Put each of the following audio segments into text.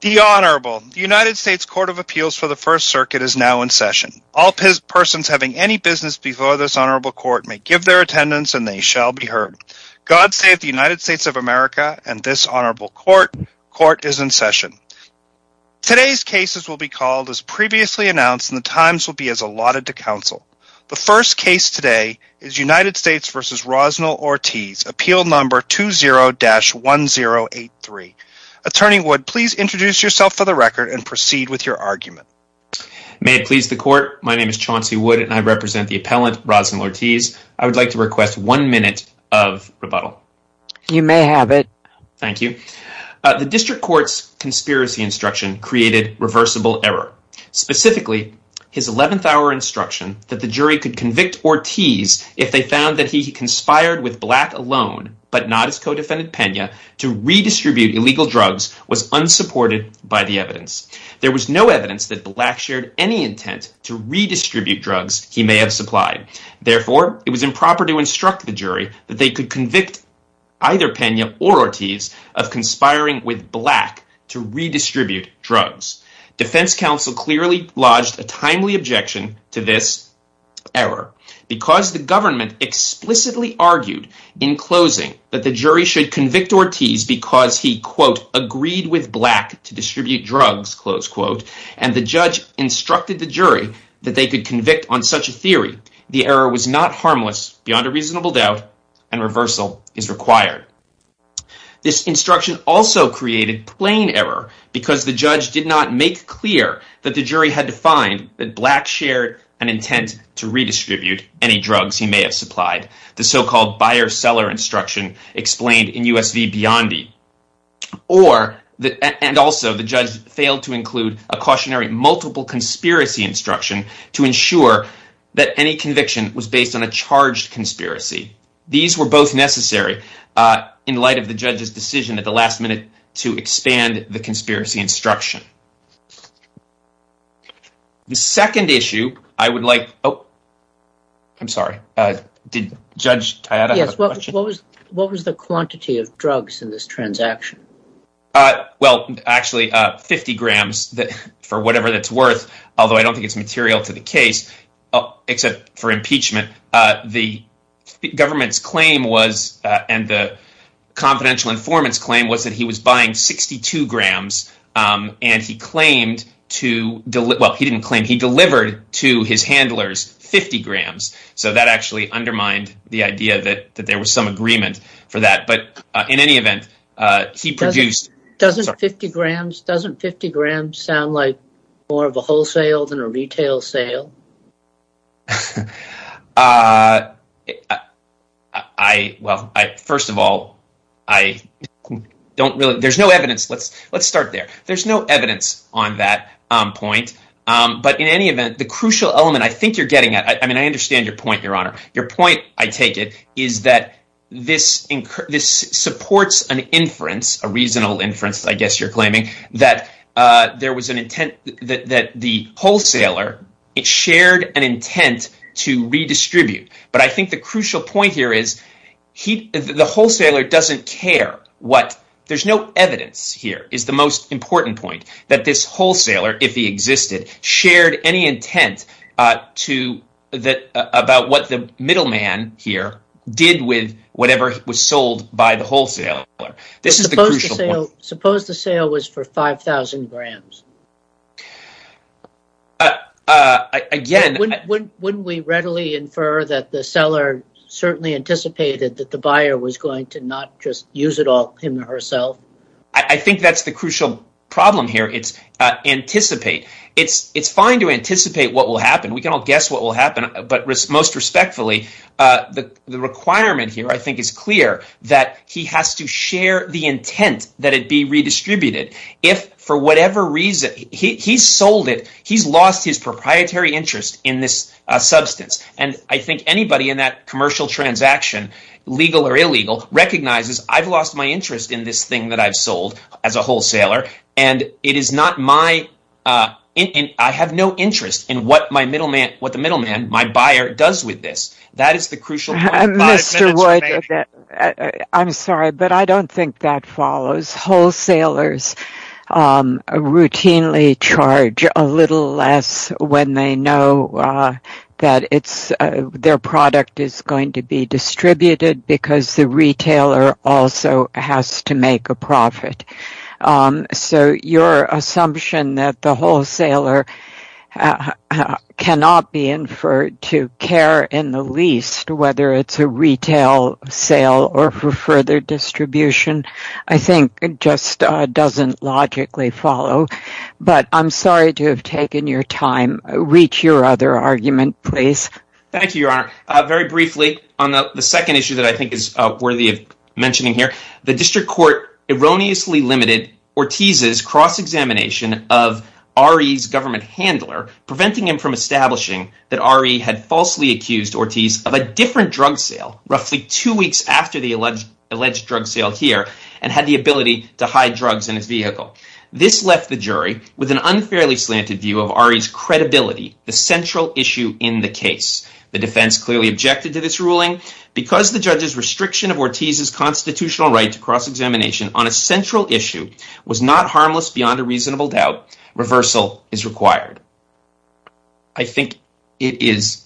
The Honorable, the United States Court of Appeals for the First Circuit is now in session. All persons having any business before this honorable court may give their attendance and they shall be heard. God save the United States of America and this honorable court, court is in session. Today's cases will be called as previously announced and the times will be as allotted to counsel. The first case today is United States v. Rosnell Ortiz, appeal number 20-1083. Attorney Wood, please introduce yourself for the record and proceed with your argument. May it please the court. My name is Chauncey Wood and I represent the appellant, Rosnell Ortiz. I would like to request one minute of rebuttal. You may have it. Thank you. The district court's conspiracy instruction created reversible error. Specifically, his 11th hour instruction that the jury could convict Ortiz if they found that he conspired with Black alone but not his co-defendant, Pena, to redistribute illegal drugs was unsupported by the evidence. There was no evidence that Black shared any intent to redistribute drugs he may have supplied. Therefore, it was improper to instruct the jury that they could convict either Pena or Ortiz of conspiring with Black to redistribute drugs. Defense counsel clearly lodged a timely objection to this error. Because the government explicitly argued in closing that the jury should convict Ortiz because he, quote, agreed with Black to distribute drugs, close quote, and the judge instructed the jury that they could convict on such a theory, the error was not harmless beyond a reasonable doubt and reversal is required. This instruction also created plain error because the judge did not make clear that the jury had defined that Black shared an intent to redistribute any drugs he may have supplied, the so-called buyer-seller instruction explained in US v. Biondi, and also the judge failed to include a cautionary multiple conspiracy instruction to ensure that any conviction was based on a charged conspiracy. These were both necessary in light of the judge's decision at the last minute to expand the conspiracy instruction. The second issue I would like to discuss is the confidential informant's claim that he was buying 62 grams and he delivered to his handlers 50 grams, so that actually undermined the idea that there was some agreement for that. In any event, the crucial element I think you're getting at, I mean I understand your supports an inference, a reasonable inference I guess you're claiming, that the wholesaler shared an intent to redistribute, but I think the crucial point here is the wholesaler doesn't care. There's no evidence here is the most important point that this wholesaler, if he existed, shared any intent about what the middleman here did with whatever was sold by the wholesaler. of the Goldstein on Gelt radio show. Suppose the sale was for 5,000 grams. Wouldn't we readily infer that the seller certainly anticipated that the buyer was going to not just use it all him or herself? I think that's the crucial problem here. It's fine to anticipate what will happen. We can all guess what will happen, but most respectfully, the requirement here I think is clear that he has to share the intent that it be redistributed. If for whatever reason he sold it, he's lost his proprietary interest in this substance and I think anybody in that commercial transaction, legal or illegal, recognizes I've lost my interest in what I've sold as a wholesaler and I have no interest in what the middleman, my buyer, does with this. That is the crucial point. I'm sorry, but I don't think that follows. Wholesalers routinely charge a little less when they know that their product is going to be distributed because the retailer also has to make a profit. Your assumption that the wholesaler cannot be inferred to care in the least whether it's a retail sale or for further distribution I think just doesn't logically follow, but I'm sorry to have taken your time. Reach your other argument, please. Thank you, Your Honor. Very briefly on the second issue that I think is worthy of mentioning here, the district court erroneously limited Ortiz's cross-examination of RE's government handler, preventing him from establishing that RE had falsely accused Ortiz of a different drug sale roughly two weeks after the alleged drug sale here and had the ability to hide drugs in his vehicle. This left the jury with an unfairly slanted view of RE's credibility, the central issue in the case. The defense clearly objected to this ruling. Because the judge's restriction of Ortiz's constitutional right to cross-examination on a central issue was not harmless beyond a reasonable doubt, reversal is required. I think it is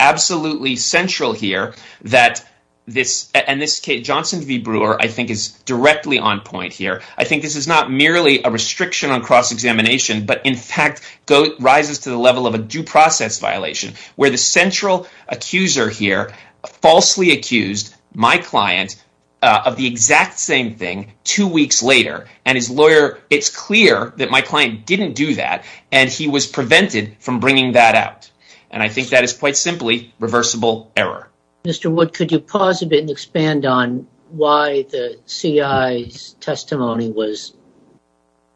absolutely central here that this, and this case, Johnson v. Brewer, I think is directly on point here. I think this is not merely a restriction on cross-examination, but in fact rises to the accuser here falsely accused my client of the exact same thing two weeks later, and his lawyer, it's clear that my client didn't do that, and he was prevented from bringing that out. I think that is quite simply reversible error. Mr. Wood, could you pause a bit and expand on why the CI's testimony was,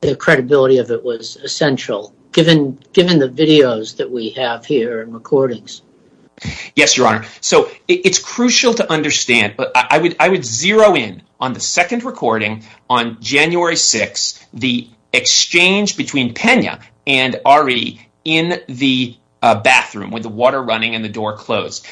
the credibility of it was essential, given the videos that we have here and recordings? Yes, Your Honor. So it's crucial to understand, I would zero in on the second recording on January 6, the exchange between Pena and RE in the bathroom with the water running and the door closed.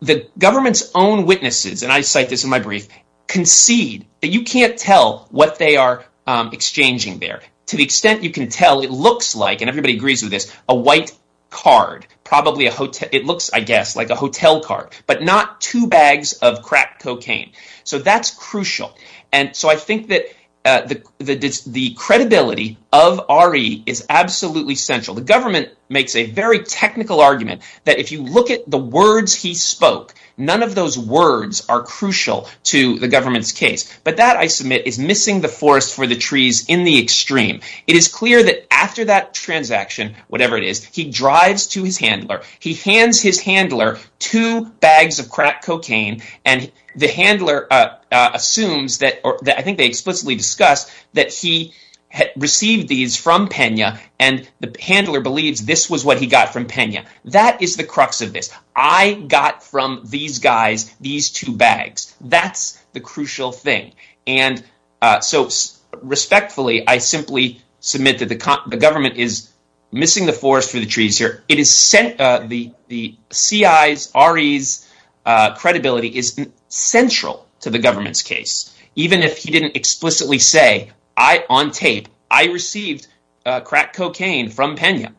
The government's own witnesses, and I cite this in my brief, concede that you can't tell what they are exchanging there. To the extent you can tell, it looks like, and everybody agrees with this, a white card, probably a hotel, it looks, I guess, like a hotel card, but not two bags of crack cocaine. So that's crucial. And so I think that the credibility of RE is absolutely essential. The government makes a very technical argument that if you look at the words he spoke, none of those words are crucial to the government's case. But that, I submit, is missing the forest for the trees in the extreme. It is clear that after that transaction, whatever it is, he drives to his handler. He hands his handler two bags of crack cocaine, and the handler assumes that, or I think they explicitly discuss, that he received these from Pena, and the handler believes this was what he got from Pena. That is the crux of this. I got from these guys these two bags. That's the crucial thing. And so respectfully, I simply submit that the government is missing the forest for the trees here. It is the CI's, RE's credibility is central to the government's case. Even if he didn't explicitly say, on tape, I received crack cocaine from Pena.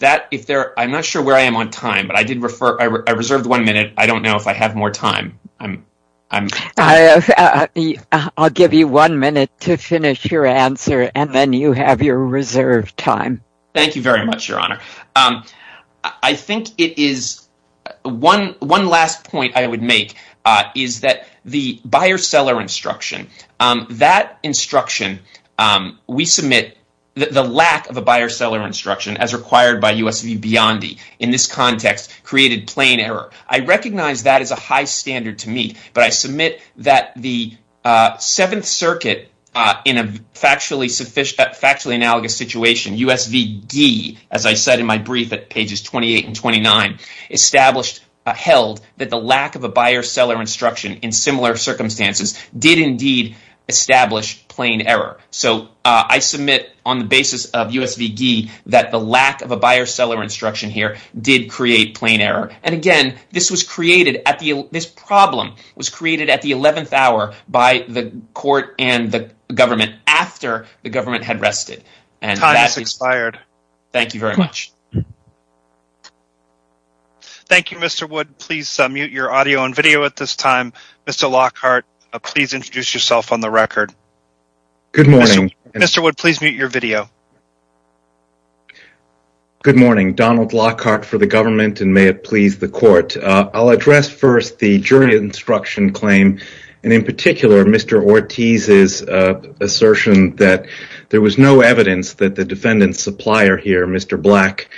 I'm not sure where I am on time, but I reserved one minute. I don't know if I have more time. I'll give you one minute to finish your answer, and then you have your reserved time. Thank you very much, Your Honor. I think it is one last point I would make, is that the buyer-seller instruction, that instruction we submit, the lack of a buyer-seller instruction as required by US v. Biondi, in this context, created plain error. I recognize that as a high standard to meet, but I submit that the Seventh Circuit, in a factually analogous situation, US v. Gee, as I said in my brief at pages 28 and 29, held that the lack of a buyer-seller instruction in similar circumstances did indeed establish plain error. So I submit, on the basis of US v. Gee, that the lack of a buyer-seller instruction here did create plain error. And again, this problem was created at the 11th hour by the court and the government after the government had rested. The time has expired. Thank you very much. Thank you, Mr. Wood. Please mute your audio and video at this time. Mr. Lockhart, please introduce yourself on the record. Mr. Wood, please mute your video. Good morning. Donald Lockhart for the government, and may it please the court. I'll address first the jury instruction claim, and in particular, Mr. Ortiz's assertion that there was no evidence that the defendant's supplier here, Mr. Black,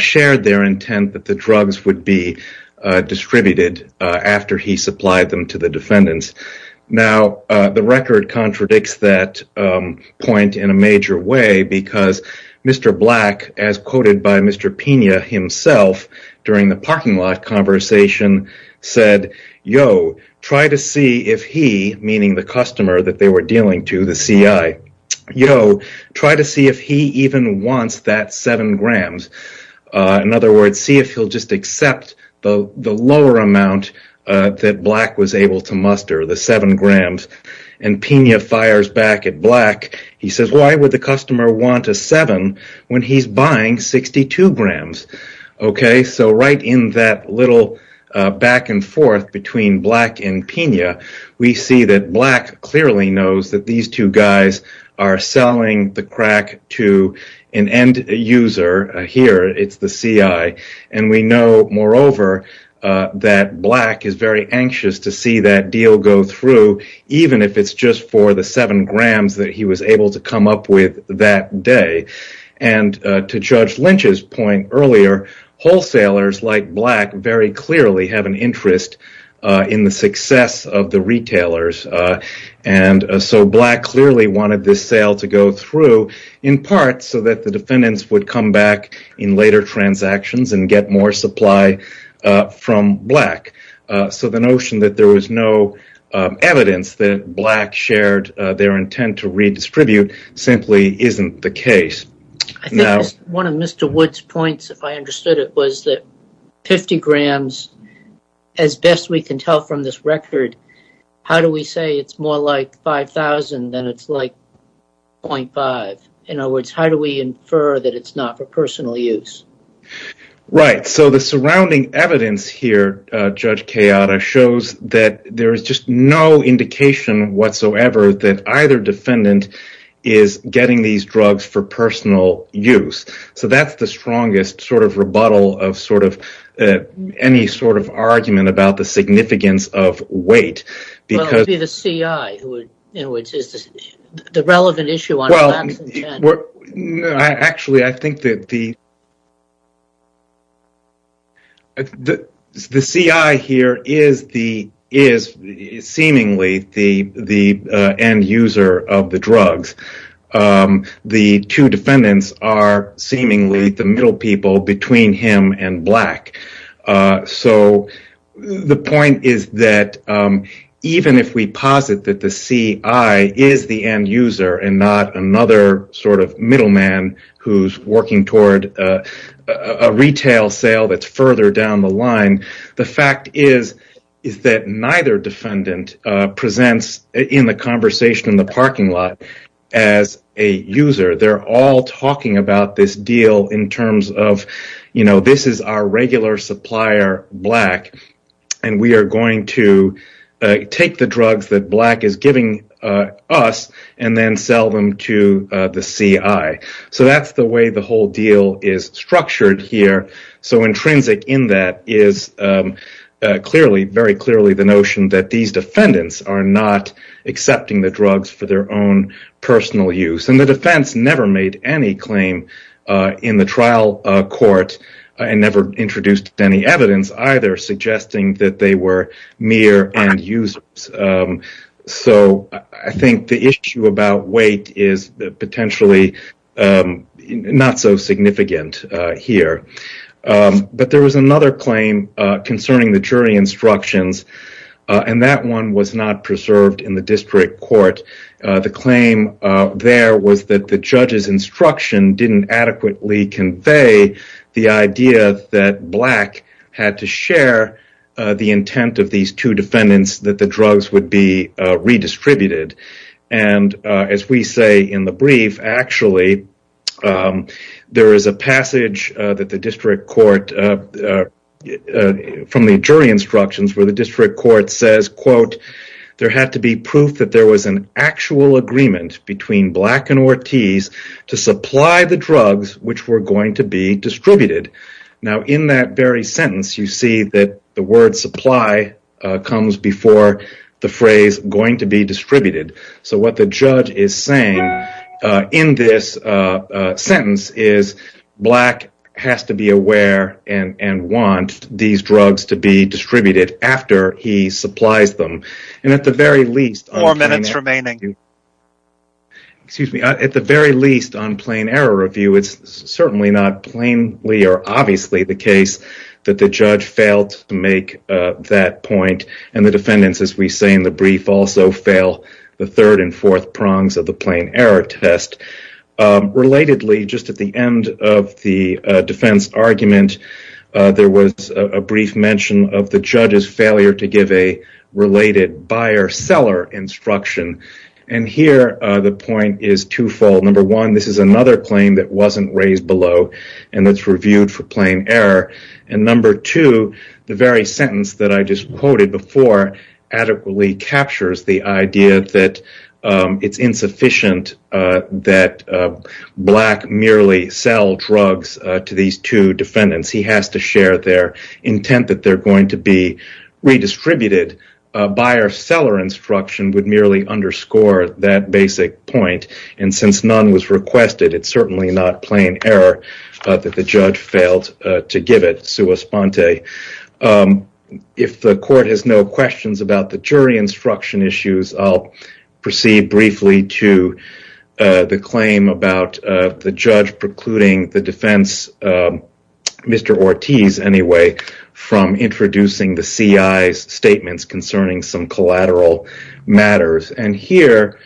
shared their intent that the drugs would be distributed after he supplied them to the defendants. Now, the record contradicts that point in a major way, because Mr. Black, as quoted by Mr. Pena himself during the parking lot conversation, said, yo, try to see if he, meaning the customer that they were dealing to, the CI, yo, try to see if he even wants that seven grams. In other words, see if he'll just accept the lower amount that Black was able to muster, the seven grams. And Pena fires back at Black. He says, why would the customer want a seven when he's buying 62 grams? So right in that little back and forth between Black and Pena, we see that Black clearly knows that these two guys are selling the crack to an end user. Here, it's the CI. And we know, moreover, that Black is very anxious to see that deal go through, even if it's just for the seven grams that he was able to come up with that day. And to Judge Lynch's point earlier, wholesalers like Black very clearly have an interest in the success of the retailers. And so Black clearly wanted this sale to go through, in part, so that the defendants would come back in later transactions and get more supply from Black. So the notion that there was no evidence that Black shared their intent to redistribute simply isn't the case. I think one of Mr. Wood's points, if I understood it, was that 50 grams, as best we can tell from this record, how do we say it's more like 5,000 than it's like 0.5? In other words, how do we infer that it's not for personal use? Right. The surrounding evidence here, Judge Kayada, shows that there is just no indication whatsoever that either defendant is getting these drugs for personal use. So that's the strongest sort of rebuttal of sort of any sort of argument about the significance of weight. Well, it would be the CI who would, in other words, is the relevant issue on Black's intent. Actually, I think that the CI here is seemingly the end user of the drugs. The two defendants are seemingly the middle people between him and Black. So the point is that even if we posit that the CI is the end user and not another sort of middleman who's working toward a retail sale that's further down the line, the fact is that neither defendant presents in the conversation in the parking lot as a user. They're all talking about this deal in terms of, you know, this is our regular supplier, Black, and we are going to take the drugs that Black is giving us and then sell them to the CI. So that's the way the whole deal is structured here. So intrinsic in that is clearly, very clearly the notion that these defendants are not accepting the drugs for their own personal use. The defense never made any claim in the trial court and never introduced any evidence either suggesting that they were mere end users. So I think the issue about weight is potentially not so significant here. But there was another claim concerning the jury instructions, and that one was not preserved in the district court. The claim there was that the judge's instruction didn't adequately convey the idea that Black had to share the intent of these two defendants that the drugs would be redistributed. And as we say in the brief, actually, there is a passage that the district court from the jury instructions where the district court says, quote, there had to be proof that there was an actual agreement between Black and Ortiz to supply the drugs which were going to be distributed. Now, in that very sentence, you see that the word supply comes before the phrase going to be distributed. So what the judge is saying in this sentence is Black has to be aware and want these drugs to be distributed after he supplies them. And at the very least on plain error review, it's certainly not plainly or obviously the case that the judge failed to make that point. And the defendants, as we say in the brief, also fail the third and fourth prongs of the plain error test. Relatedly, just at the end of the defense argument, there was a brief mention of the buyer-seller instruction. And here, the point is twofold. Number one, this is another claim that wasn't raised below and that's reviewed for plain error. And number two, the very sentence that I just quoted before adequately captures the idea that it's insufficient that Black merely sell drugs to these two defendants. He has to share their intent that they're going to be redistributed. Buyer-seller instruction would merely underscore that basic point. And since none was requested, it's certainly not plain error that the judge failed to give it sua sponte. If the court has no questions about the jury instruction issues, I'll proceed briefly to the claim about the judge precluding the defense, Mr. Ortiz anyway, from introducing the CI's statements concerning some collateral matters. And here,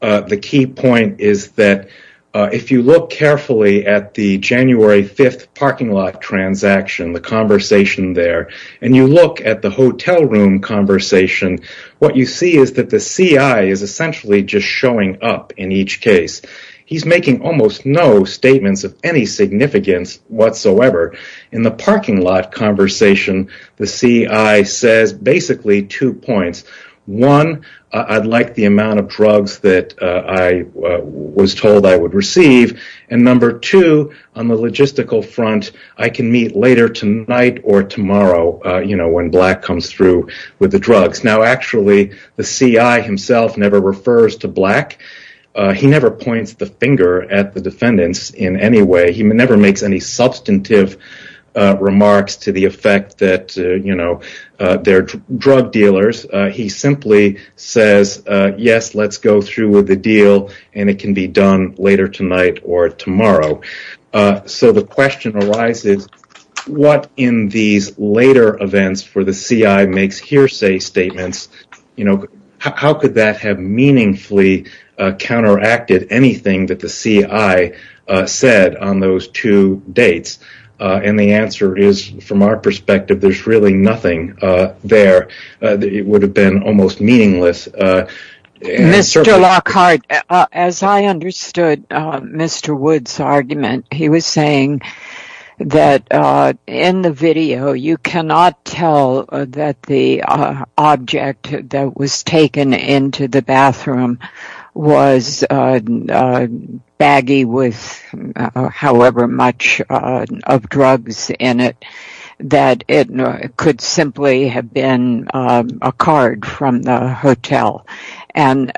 the key point is that if you look carefully at the January 5th parking lot transaction, the conversation there, and you look at the hotel room conversation, what you see is that the CI is essentially just showing up in each case. He's making almost no statements of any significance whatsoever. In the parking lot conversation, the CI says basically two points. One, I'd like the amount of drugs that I was told I would receive. And number two, on the logistical front, I can meet later tonight or tomorrow when Black comes through with the drugs. Actually, the CI himself never refers to Black. He never points the finger at the defendants in any way. He never makes any substantive remarks to the effect that they're drug dealers. He simply says, yes, let's go through with the deal, and it can be done later tonight or tomorrow. So the question arises, what in these later events for the CI makes hearsay statements? How could that have meaningfully counteracted anything that the CI said on those two dates? And the answer is, from our perspective, there's really nothing there. It would have been almost meaningless. Mr. Lockhart, as I understood Mr. Wood's argument, he was saying that in the video, you cannot tell that the object that was taken into the bathroom was baggy with however much of drugs in it, that it could simply have been a card from the hotel. And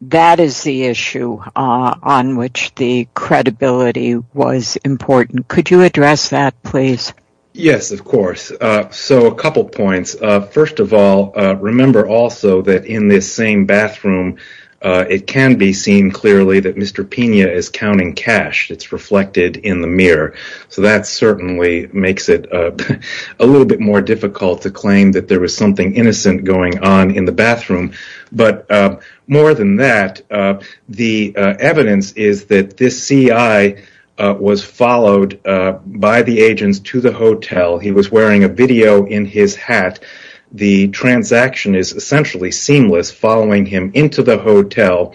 that is the issue on which the credibility was important. Could you address that, please? Yes, of course. So a couple points. First of all, remember also that in this same bathroom, it can be seen clearly that Mr. So that certainly makes it a little bit more difficult to claim that there was something innocent going on in the bathroom. But more than that, the evidence is that this CI was followed by the agents to the hotel. He was wearing a video in his hat. The transaction is essentially seamless, following him into the hotel.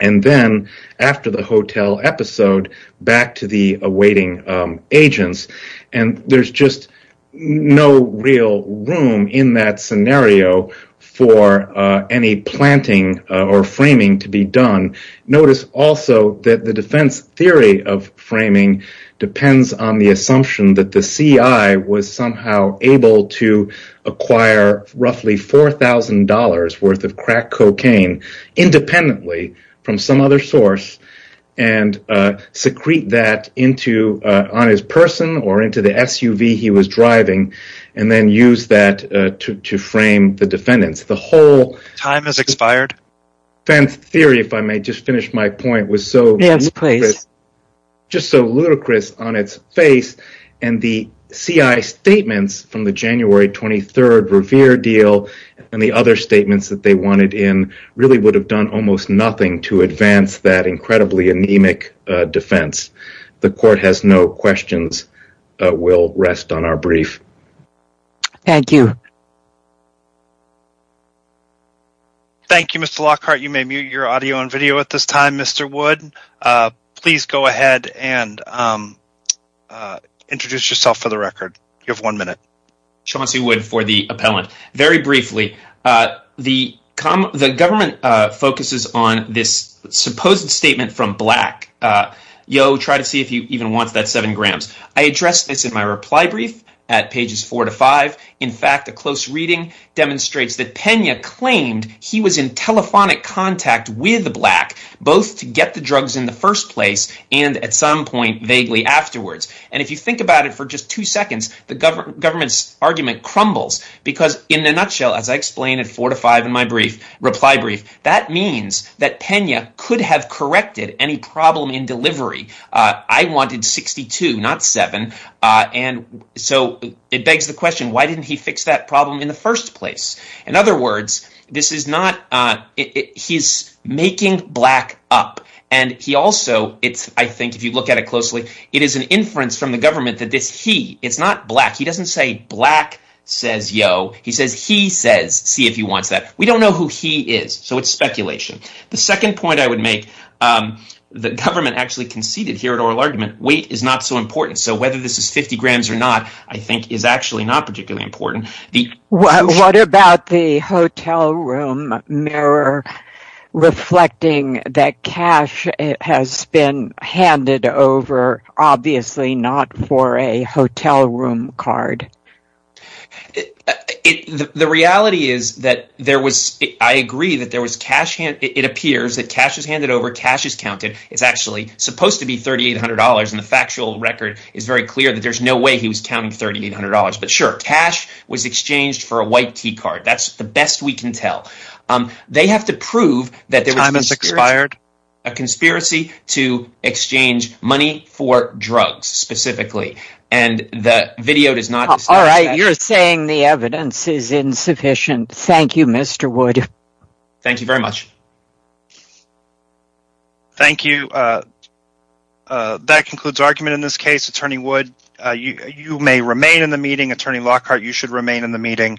And then after the hotel episode, back to the awaiting agents. And there's just no real room in that scenario for any planting or framing to be done. Notice also that the defense theory of framing depends on the assumption that the CI was somehow able to acquire roughly $4,000 worth of crack cocaine. Independently from some other source and secrete that into on his person or into the SUV he was driving and then use that to frame the defendants. The whole time has expired. Fence theory, if I may just finish my point was so just so ludicrous on its face. And the CI statements from the January 23rd Revere deal and the other statements that they wanted in really would have done almost nothing to advance that incredibly anemic defense. The court has no questions. We'll rest on our brief. Thank you. Thank you, Mr. Lockhart. You may mute your audio and video at this time, Mr. Wood. Please go ahead and introduce yourself for the record. You have one minute. Chauncey Wood for the appellant. Very briefly, the government focuses on this supposed statement from Black. Yo, try to see if you even want that seven grams. I addressed this in my reply brief at pages four to five. In fact, a close reading demonstrates that Pena claimed he was in telephonic contact with the Black both to get the drugs in the first place and at some point vaguely afterwards. And if you think about it for just two seconds, the government's argument crumbles because in a nutshell, as I explained at four to five in my reply brief, that means that Pena could have corrected any problem in delivery. I wanted 62, not seven. And so it begs the question, why didn't he fix that problem in the first place? In other words, he's making Black up. And he also, I think if you look at it closely, it is an inference from the government that it's not Black. He doesn't say Black says yo. He says, see if he wants that. We don't know who he is. So it's speculation. The second point I would make, the government actually conceded here at Oral Argument, weight is not so important. So whether this is 50 grams or not, I think is actually not particularly important. What about the hotel room mirror reflecting that cash has been handed over, obviously not for a hotel room card? The reality is that I agree that it appears that cash is handed over, cash is counted. It's actually supposed to be $3,800 and the factual record is very clear that there's no way he was counting $3,800. But sure, cash was exchanged for a white key card. That's the best we can tell. They have to prove that there was a conspiracy to exchange money for drugs specifically. And the video does not... All right, you're saying the evidence is insufficient. Thank you, Mr. Wood. Thank you very much. Thank you. That concludes argument in this case. Attorney Wood, you may remain in the meeting. Attorney Lockhart, you should remain in the meeting.